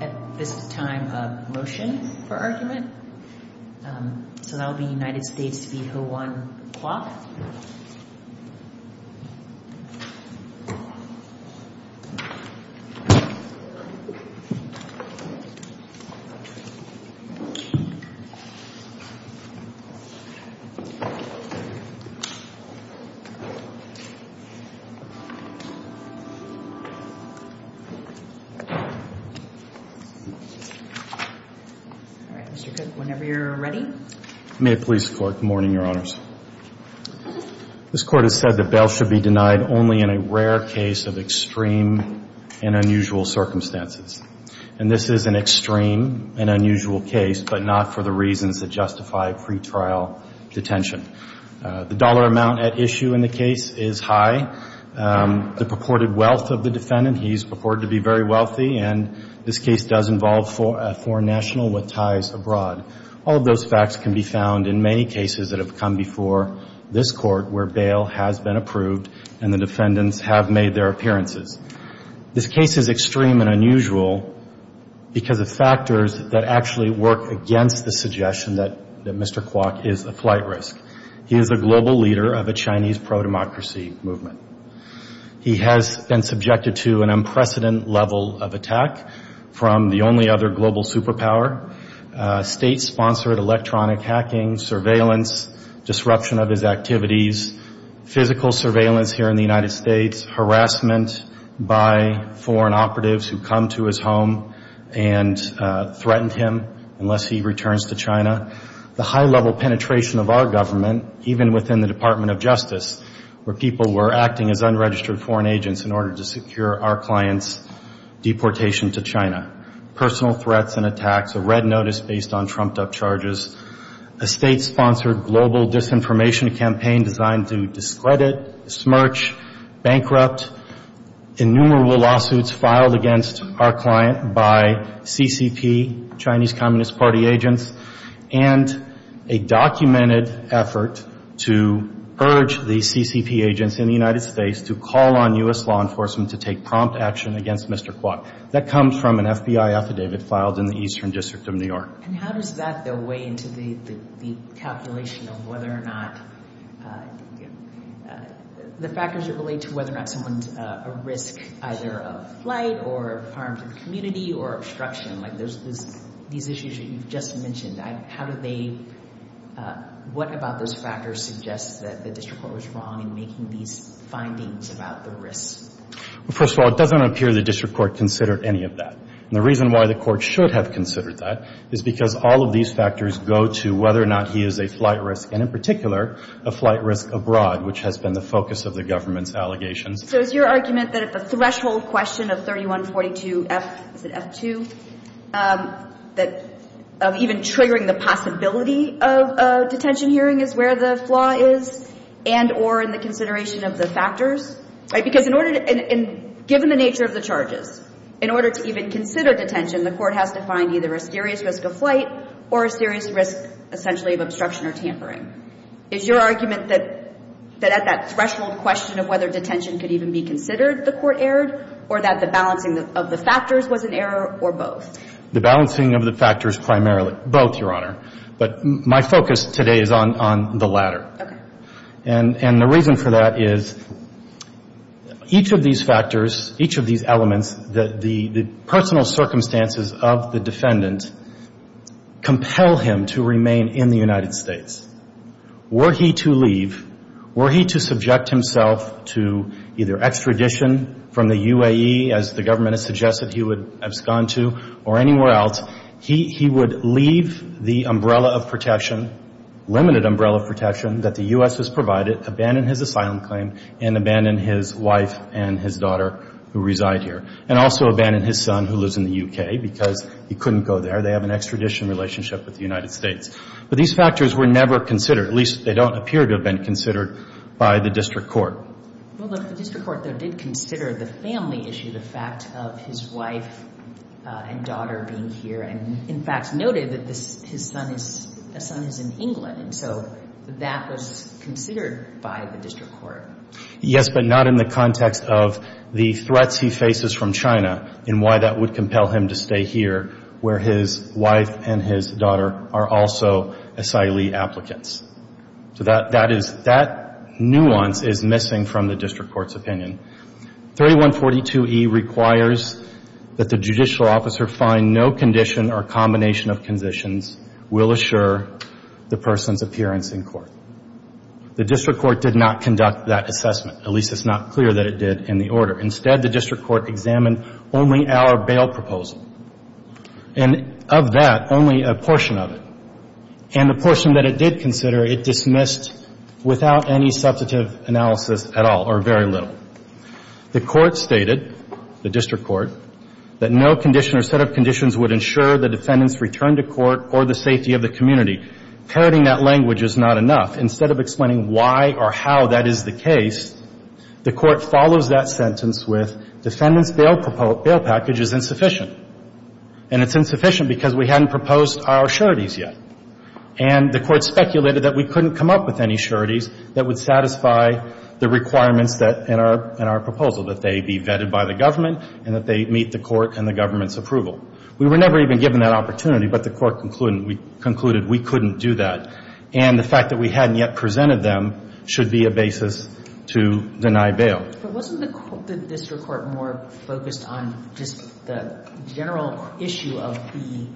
at this time of motion for argument. So that would be United States v. Ho-Wan Kwok. All right, Mr. Kwok, whenever you're ready. May it please the Court, good morning, Your Honors. This Court has said that bail should be denied only in a rare case of extreme and unusual circumstances. And this is an extreme and unusual case, but not for the reasons that justify pretrial detention. The dollar amount at issue in the case is high. The purported wealth of the defendant, he's purported to be very wealthy, and this case does involve a foreign national with ties abroad. All of those facts can be found in many cases that have come before this Court where bail has been approved and the defendants have made their appearances. This case is extreme and unusual because of factors that actually work against the suggestion that Mr. Kwok is a flight risk. He is a global leader of a Chinese pro-democracy movement. He has been subjected to an unprecedented level of attack from the only other global superpower, state-sponsored electronic hacking, surveillance, disruption of his activities, physical surveillance here in the United States, harassment by foreign operatives who come to his home and threaten him unless he returns to China. The high-level penetration of our government, even within the Department of Justice, where people were acting as unregistered foreign agents in order to secure our client's deportation to China. Personal threats and attacks, a red notice based on trumped-up charges, a state-sponsored global disinformation campaign designed to discredit, smirch, bankrupt, innumerable lawsuits filed against our client by CCP, Chinese Communist Party agents, and a documented effort to urge the CCP agents in the United States to call on U.S. law enforcement to take prompt action against Mr. Kwok. That comes from an FBI affidavit filed in the Eastern District of New York. And how does that, though, weigh into the calculation of whether or not, the factors that relate to whether or not someone's a risk either of flight or of harm to the community or obstruction? Like, there's these issues that you've just mentioned. How do they, what about those factors suggests that the district court was wrong in making these findings about the risks? Well, first of all, it doesn't appear the district court considered any of that. And the reason why the court should have considered that is because all of these factors go to whether or not he is a flight risk, and in particular, a flight risk abroad, which has been the focus of the government's allegations. So is your argument that at the threshold question of 3142 F, is it F2, that of even triggering the possibility of a detention hearing is where the flaw is, and or in the consideration of the factors, right? Because in order to, and given the nature of the charges, in order to even consider detention, the court has to find either a serious risk of flight or a serious risk, essentially, of obstruction or tampering. Is your argument that at that threshold question of whether detention could even be considered, the court erred, or that the balancing of the factors was an error, or both? The balancing of the factors primarily, both, Your Honor. But my focus today is on the latter. Okay. And the reason for that is each of these factors, each of these elements, the personal circumstances of the defendant compel him to remain in the United States. Were he to leave, were he to subject himself to either extradition from the UAE, as the government has suggested he would abscond to, or anywhere else, he would leave the umbrella of protection, limited umbrella of protection that the U.S. has provided, abandon his asylum claim, and abandon his wife and his daughter who reside here, and also abandon his son who lives in the U.K. because he couldn't go there. They have an extradition relationship with the United States. But these factors were never considered, at least they don't appear to have been considered by the district court. Well, the district court, though, did consider the family issue, the fact of his wife and daughter being here, and in fact noted that his son is in England, and so that was considered by the district court. Yes, but not in the context of the threats he faces from China and why that would compel him to stay here where his wife and his daughter are also asylee applicants. So that nuance is missing from the district court's opinion. 3142E requires that the judicial officer find no condition or combination of conditions will assure the person's appearance in court. The district court did not conduct that assessment. At least it's not clear that it did in the order. Instead, the district court examined only our bail proposal, and of that, only a portion of it. And the portion that it did consider, it dismissed without any substantive analysis at all or very little. The court stated, the district court, that no condition or set of conditions would ensure the defendant's return to court or the safety of the community. Parroting that language is not enough. Instead of explaining why or how that is the case, the court follows that sentence with defendant's bail package is insufficient. And it's insufficient because we hadn't proposed our sureties yet. And the court speculated that we couldn't come up with any sureties that would satisfy the requirements that in our proposal, that they be vetted by the government and that they meet the court and the government's approval. We were never even given that opportunity, but the court concluded we couldn't do that. And the fact that we hadn't yet presented them should be a basis to deny bail. But wasn't the district court more focused on just the general issue of the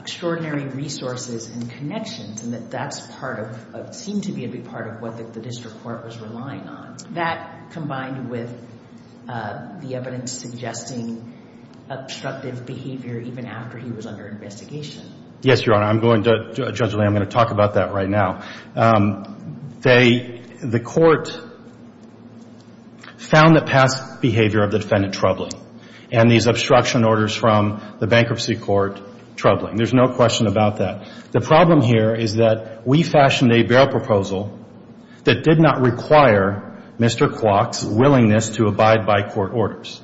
extraordinary resources and connections? And that that's part of, seemed to be a big part of what the district court was relying on. That combined with the evidence suggesting obstructive behavior even after he was under investigation. Yes, Your Honor. I'm going to, Judge Lange, I'm going to talk about that right now. They, the court found the past behavior of the defendant troubling and these obstruction orders from the bankruptcy court troubling. There's no question about that. The problem here is that we fashioned a bail proposal that did not require Mr. Clock's willingness to abide by court orders.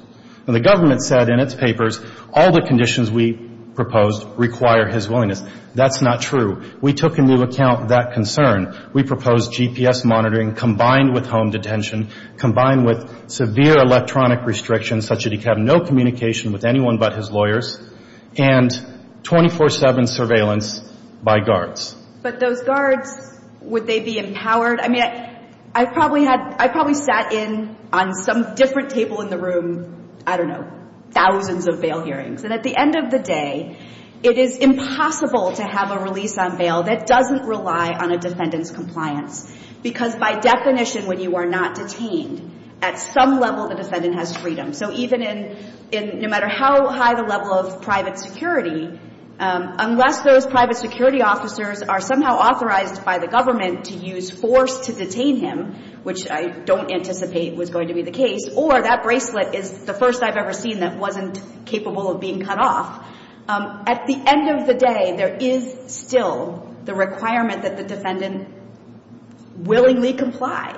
Now, the government said in its papers all the conditions we proposed require his willingness. That's not true. We took into account that concern. We proposed GPS monitoring combined with home detention, combined with severe electronic restrictions such that he could have no communication with anyone but his lawyers, and 24-7 surveillance by guards. But those guards, would they be empowered? I mean, I probably had, I probably sat in on some different table in the room, I don't know, thousands of bail hearings. And at the end of the day, it is impossible to have a release on bail that doesn't rely on a defendant's compliance. Because by definition, when you are not detained, at some level the defendant has freedom. So even in, no matter how high the level of private security, unless those private security officers are somehow authorized by the government to use force to detain him, which I don't anticipate was going to be the case, or that bracelet is the first I've ever seen that wasn't capable of being cut off, at the end of the day, there is still the requirement that the defendant willingly comply.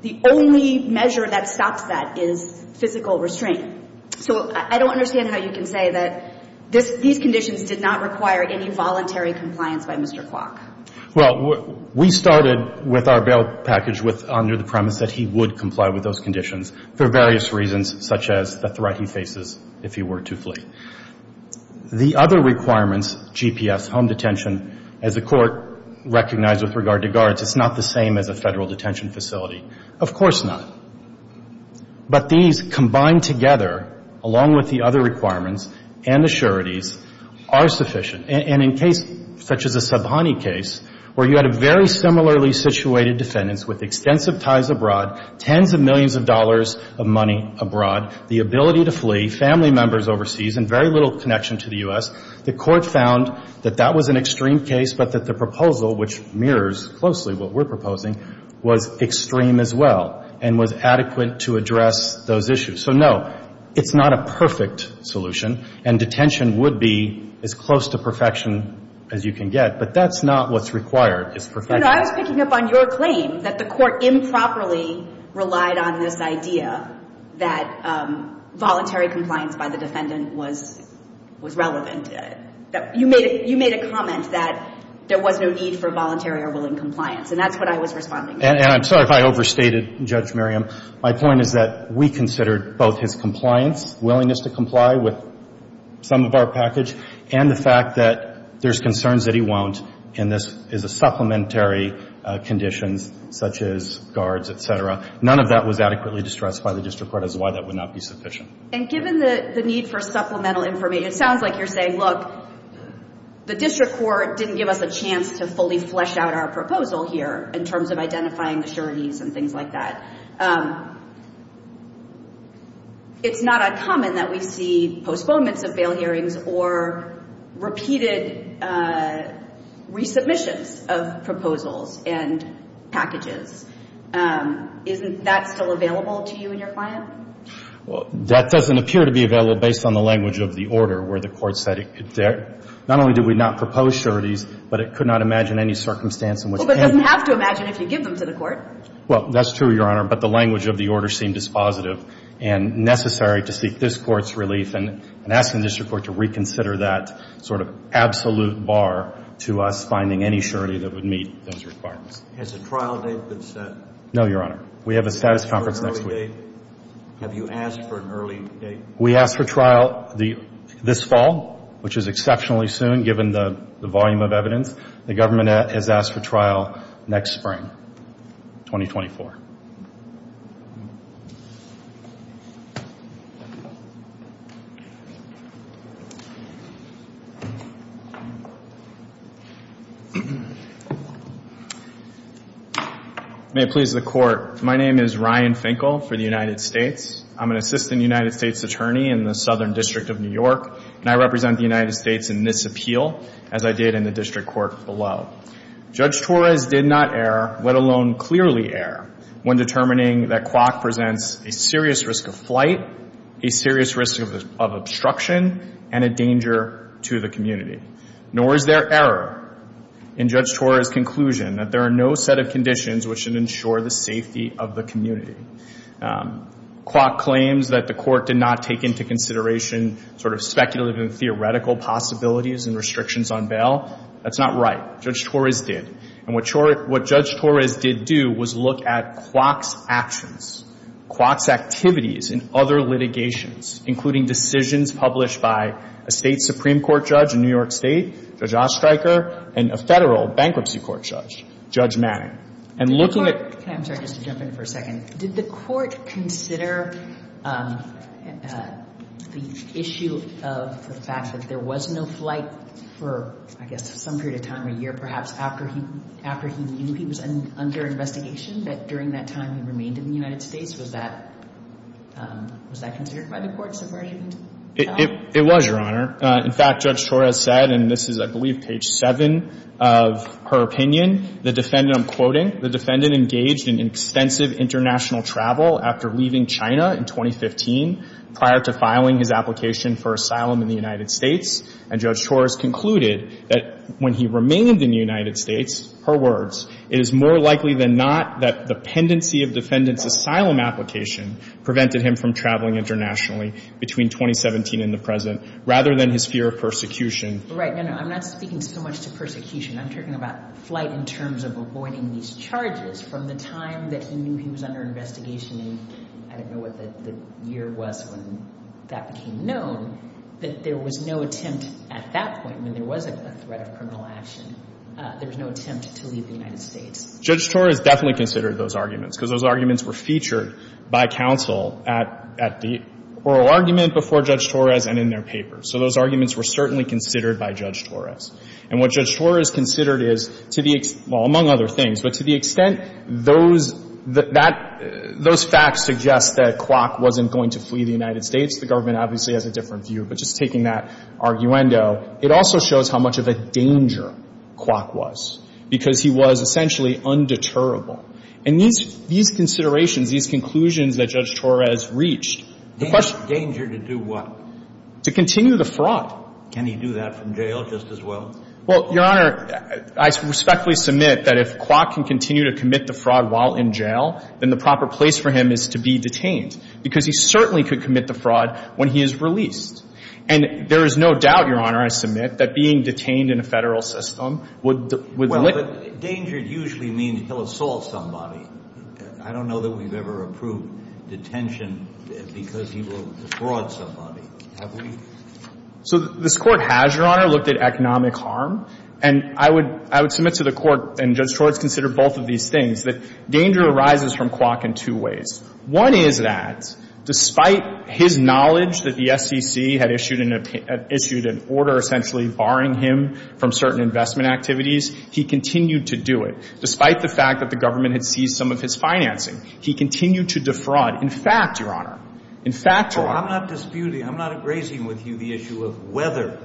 The only measure that stops that is physical restraint. So I don't understand how you can say that this, these conditions did not require any voluntary compliance by Mr. Clock. Well, we started with our bail package with, under the premise that he would comply with those conditions for various reasons, such as the threat he faces if he were to flee. The other requirements, GPS, home detention, as the Court recognized with regard to guards, it's not the same as a Federal detention facility. Of course not. But these combined together, along with the other requirements and assurities, are sufficient. And in case, such as the Subhani case, where you had a very similarly situated defendant with extensive ties abroad, tens of millions of dollars of money abroad, the ability to flee, family members overseas, and very little connection to the U.S., the Court found that that was an extreme case, but that the proposal, which mirrors closely what we're proposing, was extreme as well, and was adequate to address those issues. So no, it's not a perfect solution, and detention would be as close to perfection as you can get, but that's not what's required, is perfection. I was picking up on your claim that the Court improperly relied on this idea that voluntary compliance by the defendant was relevant. You made a comment that there was no need for voluntary or willing compliance, and that's what I was responding to. And I'm sorry if I overstated, Judge Miriam. My point is that we considered both his compliance, willingness to comply with some of our package, and the fact that there's concerns that he won't, and this is a supplementary condition, such as guards, et cetera. None of that was adequately distressed by the district court as to why that would not be sufficient. And given the need for supplemental information, it sounds like you're saying, look, the district court didn't give us a chance to fully flesh out our proposal here in terms of identifying the sureties and things like that. It's not uncommon that we see postponements of bail hearings or repeated resubmissions of proposals and packages. Isn't that still available to you and your client? Well, that doesn't appear to be available based on the language of the order where the Court said it could not only do we not propose sureties, but it could not imagine any circumstance in which it can. Well, but it doesn't have to imagine if you give them to the Court. Well, that's true, Your Honor, but the language of the order seemed dispositive and necessary to seek this Court's relief and ask the district court to reconsider that sort of absolute bar to us finding any surety that would meet those requirements. Has a trial date been set? No, Your Honor. We have a status conference next week. Have you asked for an early date? We asked for trial this fall, which is exceptionally soon given the volume of evidence. The government has asked for trial next spring, 2024. May it please the Court. My name is Ryan Finkel for the United States. I'm an assistant United States attorney in the Southern District of New York, and I represent the United States in this appeal, as I did in the district court below. Judge Torres did not err, let alone clearly err, when determining that Kwok presents a serious risk of flight, a serious risk of obstruction, and a danger to the community. Nor is there error in Judge Torres' conclusion that there are no set of conditions which should ensure the safety of the community. Kwok claims that the Court did not take into consideration sort of speculative and theoretical possibilities and restrictions on bail. That's not right. Judge Torres did. And what Judge Torres did do was look at Kwok's actions, Kwok's activities in other litigations, including decisions published by a State Supreme Court judge in New York State, Judge Ostreicher, and a Federal bankruptcy court judge, Judge Manning. I'm sorry, just to jump in for a second. Did the Court consider the issue of the fact that there was no flight for, I guess, some period of time, a year perhaps, after he knew he was under investigation, that during that time he remained in the United States? Was that considered by the Court so far as you can tell? It was, Your Honor. In fact, Judge Torres said, and this is, I believe, page 7 of her opinion, the defendant, I'm quoting, the defendant engaged in extensive international travel after leaving China in 2015 prior to filing his application for asylum in the United States. And Judge Torres concluded that when he remained in the United States, her words, it is more likely than not that the pendency of defendant's asylum application prevented him from traveling internationally between 2017 and the present. Rather than his fear of persecution. Right. No, no. I'm not speaking so much to persecution. I'm talking about flight in terms of avoiding these charges from the time that he knew he was under investigation, and I don't know what the year was when that became known, that there was no attempt at that point, when there was a threat of criminal action, there was no attempt to leave the United States. Judge Torres definitely considered those arguments, because those arguments were featured by counsel at the oral argument before Judge Torres and in their papers. So those arguments were certainly considered by Judge Torres. And what Judge Torres considered is, to the extent, well, among other things, but to the extent those facts suggest that Kwok wasn't going to flee the United States, the government obviously has a different view, but just taking that arguendo, it also shows how much of a danger Kwok was, because he was essentially undeterrable. And these considerations, these conclusions that Judge Torres reached, the question — Danger to do what? To continue the fraud. Can he do that from jail just as well? Well, Your Honor, I respectfully submit that if Kwok can continue to commit the fraud while in jail, then the proper place for him is to be detained, because he certainly could commit the fraud when he is released. And there is no doubt, Your Honor, I submit, that being detained in a Federal system would — Well, but danger usually means he'll assault somebody. I don't know that we've ever approved detention because he will fraud somebody. Have we? So this Court has, Your Honor, looked at economic harm. And I would — I would submit to the Court, and Judge Torres considered both of these things, that danger arises from Kwok in two ways. One is that, despite his knowledge that the SEC had issued an — he continued to do it. Despite the fact that the government had seized some of his financing, he continued to defraud. In fact, Your Honor, in fact — Well, I'm not disputing — I'm not egracing with you the issue of whether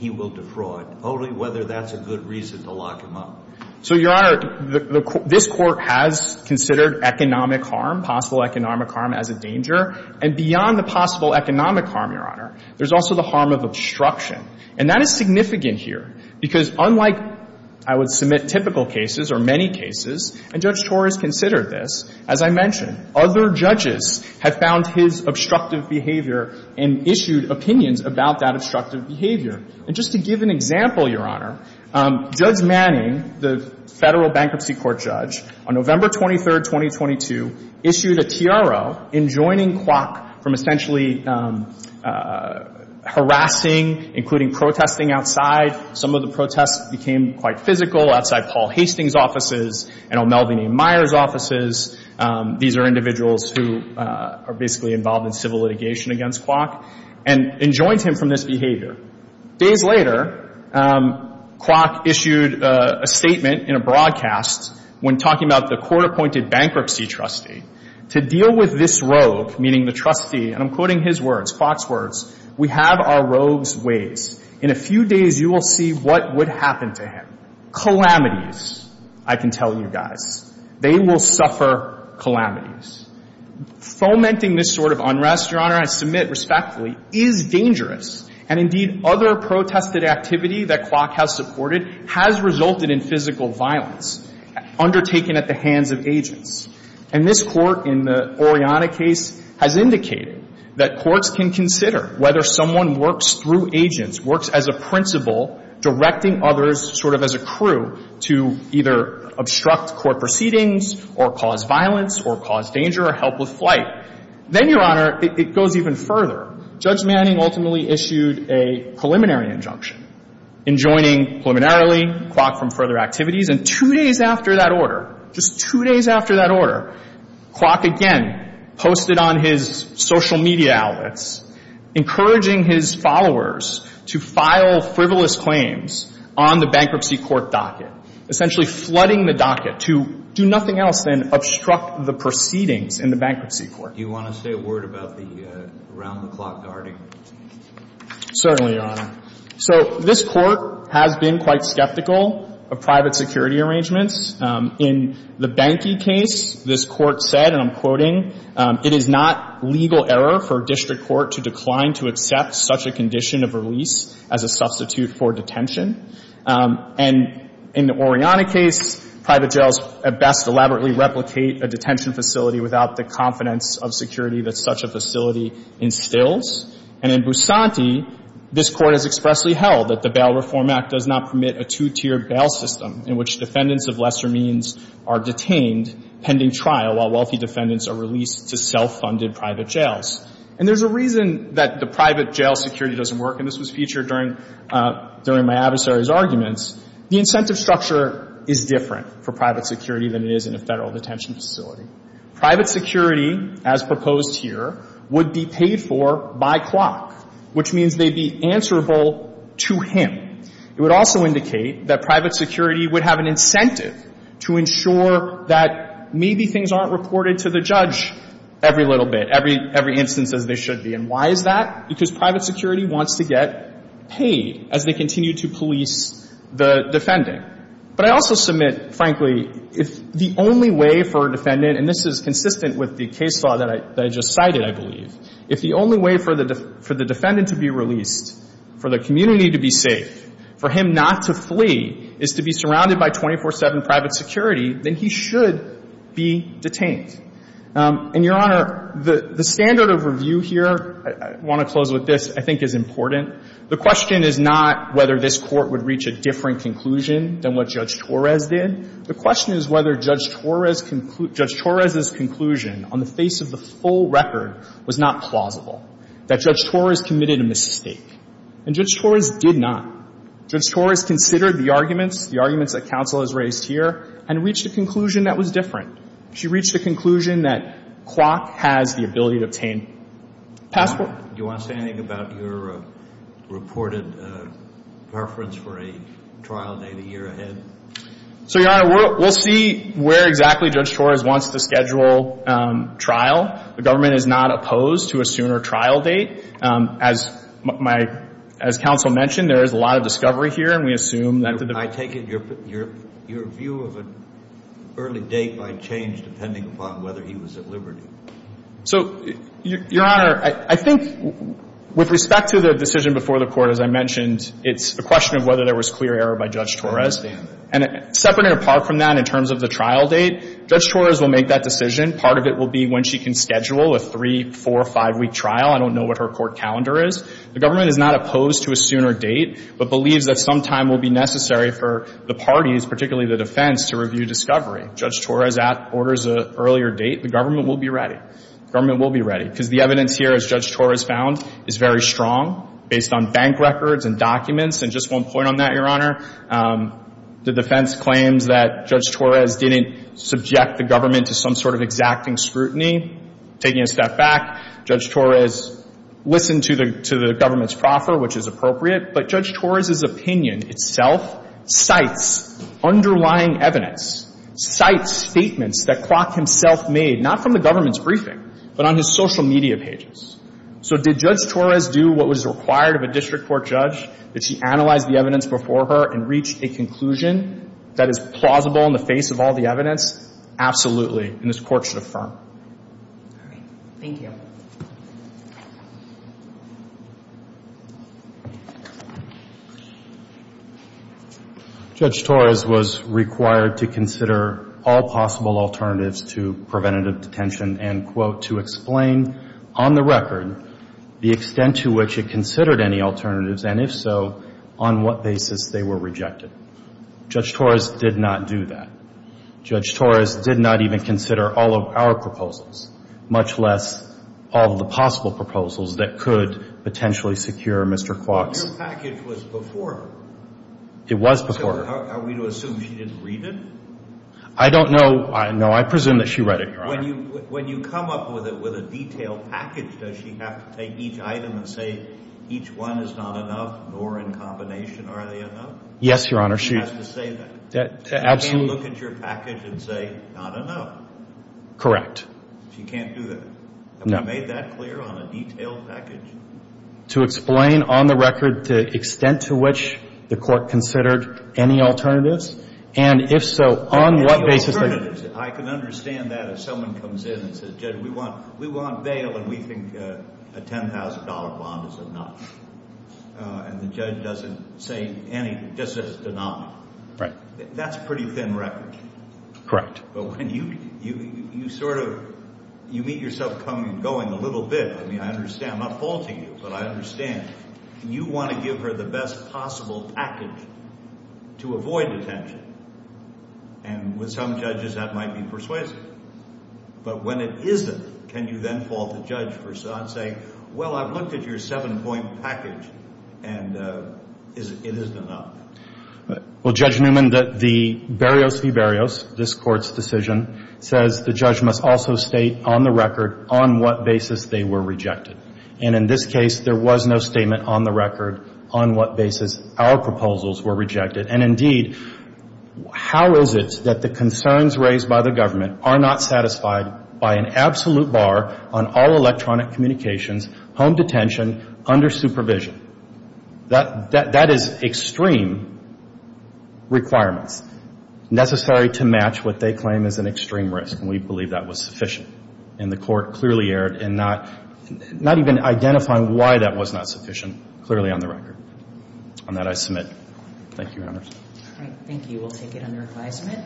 he will defraud, only whether that's a good reason to lock him up. So, Your Honor, the — this Court has considered economic harm, possible economic harm, as a danger. And beyond the possible economic harm, Your Honor, there's also the harm of obstruction. And that is significant here because, unlike I would submit typical cases or many cases, and Judge Torres considered this, as I mentioned, other judges have found his obstructive behavior and issued opinions about that obstructive behavior. And just to give an example, Your Honor, Judge Manning, the Federal Bankruptcy Court judge, on November 23, 2022, issued a TRO enjoining Kwok from essentially harassing, including protesting outside. Some of the protests became quite physical outside Paul Hastings' offices and O'Melveny Myers' offices. These are individuals who are basically involved in civil litigation against Kwok, and enjoined him from this behavior. Days later, Kwok issued a statement in a broadcast when talking about the court-appointed bankruptcy trustee. To deal with this rogue, meaning the trustee — and I'm quoting his words, Kwok's words — we have our rogue's ways. In a few days, you will see what would happen to him. Calamities, I can tell you guys. They will suffer calamities. Fomenting this sort of unrest, Your Honor, I submit respectfully, is dangerous. And indeed, other protested activity that Kwok has supported has resulted in physical violence undertaken at the hands of agents. And this Court, in the Oriana case, has indicated that courts can consider whether someone works through agents, works as a principal directing others sort of as a crew to either obstruct court proceedings or cause violence or cause danger or help with flight. Then, Your Honor, it goes even further. Judge Manning ultimately issued a preliminary injunction enjoining preliminarily Kwok from further activities. And two days after that order, just two days after that order, Kwok again posted on his social media outlets encouraging his followers to file frivolous claims on the bankruptcy court docket, essentially flooding the docket to do nothing else than obstruct the proceedings in the bankruptcy court. Do you want to say a word about the around-the-clock guarding? Certainly, Your Honor. So this Court has been quite skeptical of private security arrangements. In the Banky case, this Court said, and I'm quoting, it is not legal error for a district court to decline to accept such a condition of release as a substitute for detention. And in the Oriana case, private jails at best elaborately replicate a detention facility without the confidence of security that such a facility instills. And in Bousanti, this Court has expressly held that the Bail Reform Act does not permit a two-tiered bail system in which defendants of lesser means are detained pending trial while wealthy defendants are released to self-funded private jails. And there's a reason that the private jail security doesn't work, and this was featured during my adversary's arguments. The incentive structure is different for private security than it is in a Federal detention facility. Private security, as proposed here, would be paid for by clock, which means they'd be answerable to him. It would also indicate that private security would have an incentive to ensure that maybe things aren't reported to the judge every little bit, every instance as they should be. And why is that? Because private security wants to get paid as they continue to police the defending. But I also submit, frankly, if the only way for a defendant, and this is consistent with the case law that I just cited, I believe, if the only way for the defendant to be released, for the community to be safe, for him not to flee, is to be surrounded by 24-7 private security, then he should be detained. And, Your Honor, the standard of review here, I want to close with this, I think is important. The question is not whether this Court would reach a different conclusion than what Judge Torres did. The question is whether Judge Torres' conclusion on the face of the full record was not plausible, that Judge Torres committed a mistake. And Judge Torres did not. Judge Torres considered the arguments, the arguments that counsel has raised here, and reached a conclusion that was different. She reached a conclusion that clock has the ability to obtain passports. Do you want to say anything about your reported preference for a trial date a year ahead? So, Your Honor, we'll see where exactly Judge Torres wants to schedule trial. The government is not opposed to a sooner trial date. As counsel mentioned, there is a lot of discovery here, and we assume that the I take it your view of an early date might change depending upon whether he was at liberty. So, Your Honor, I think with respect to the decision before the Court, as I mentioned, it's a question of whether there was clear error by Judge Torres. And separate and apart from that, in terms of the trial date, Judge Torres will make that decision. Part of it will be when she can schedule a three-, four-, five-week trial. I don't know what her court calendar is. The government is not opposed to a sooner date, but believes that some time will be necessary for the parties, particularly the defense, to review discovery. Judge Torres orders an earlier date. The government will be ready. The government will be ready. Because the evidence here, as Judge Torres found, is very strong, based on bank records and documents. And just one point on that, Your Honor, the defense claims that Judge Torres didn't subject the government to some sort of exacting scrutiny. Taking a step back, Judge Torres listened to the government's proffer, which is appropriate. But Judge Torres's opinion itself cites underlying evidence, cites statements that Klock himself made, not from the government's briefing, but on his social media pages. So did Judge Torres do what was required of a district court judge? Did she analyze the evidence before her and reach a conclusion that is plausible in the face of all the evidence? Absolutely. And this Court should affirm. All right. Thank you. Judge Torres was required to consider all possible alternatives to preventative detention and, quote, to explain on the record the extent to which it considered any alternatives, and if so, on what basis they were rejected. Judge Torres did not do that. Judge Torres did not even consider all of our proposals, much less the possible proposals that could potentially secure Mr. Klock's. But your package was before her. It was before her. So are we to assume she didn't read it? I don't know. No, I presume that she read it, Your Honor. When you come up with a detailed package, does she have to take each item and say, each one is not enough, nor in combination are they enough? Yes, Your Honor. She has to say that. Absolutely. She can't look at your package and say, not enough. Correct. She can't do that. Have you made that clear on a detailed package? To explain on the record the extent to which the court considered any alternatives, and if so, on what basis they were rejected. I can understand that if someone comes in and says, Judge, we want bail, and we think a $10,000 bond is enough, and the judge doesn't say anything, just says, do not. Right. That's a pretty thin record. Correct. But when you sort of meet yourself going a little bit, I mean, I understand, I'm not faulting you, but I understand. You want to give her the best possible package to avoid detention, and with some judges that might be persuasive. But when it isn't, can you then fault the judge for saying, well, I've looked at your seven-point package, and it isn't enough? Well, Judge Newman, the Berrios v. Berrios, this court's decision, says the judge must also state on the record on what basis they were rejected. And in this case, there was no statement on the record on what basis our proposals were rejected. And, indeed, how is it that the concerns raised by the government are not satisfied by an absolute bar on all electronic communications, home detention, under supervision? That is extreme requirements, necessary to match what they claim is an extreme risk, and we believe that was sufficient. And the court clearly erred in not even identifying why that was not sufficient, clearly on the record. On that, I submit. Thank you, Your Honors. Thank you. We'll take it under advisement.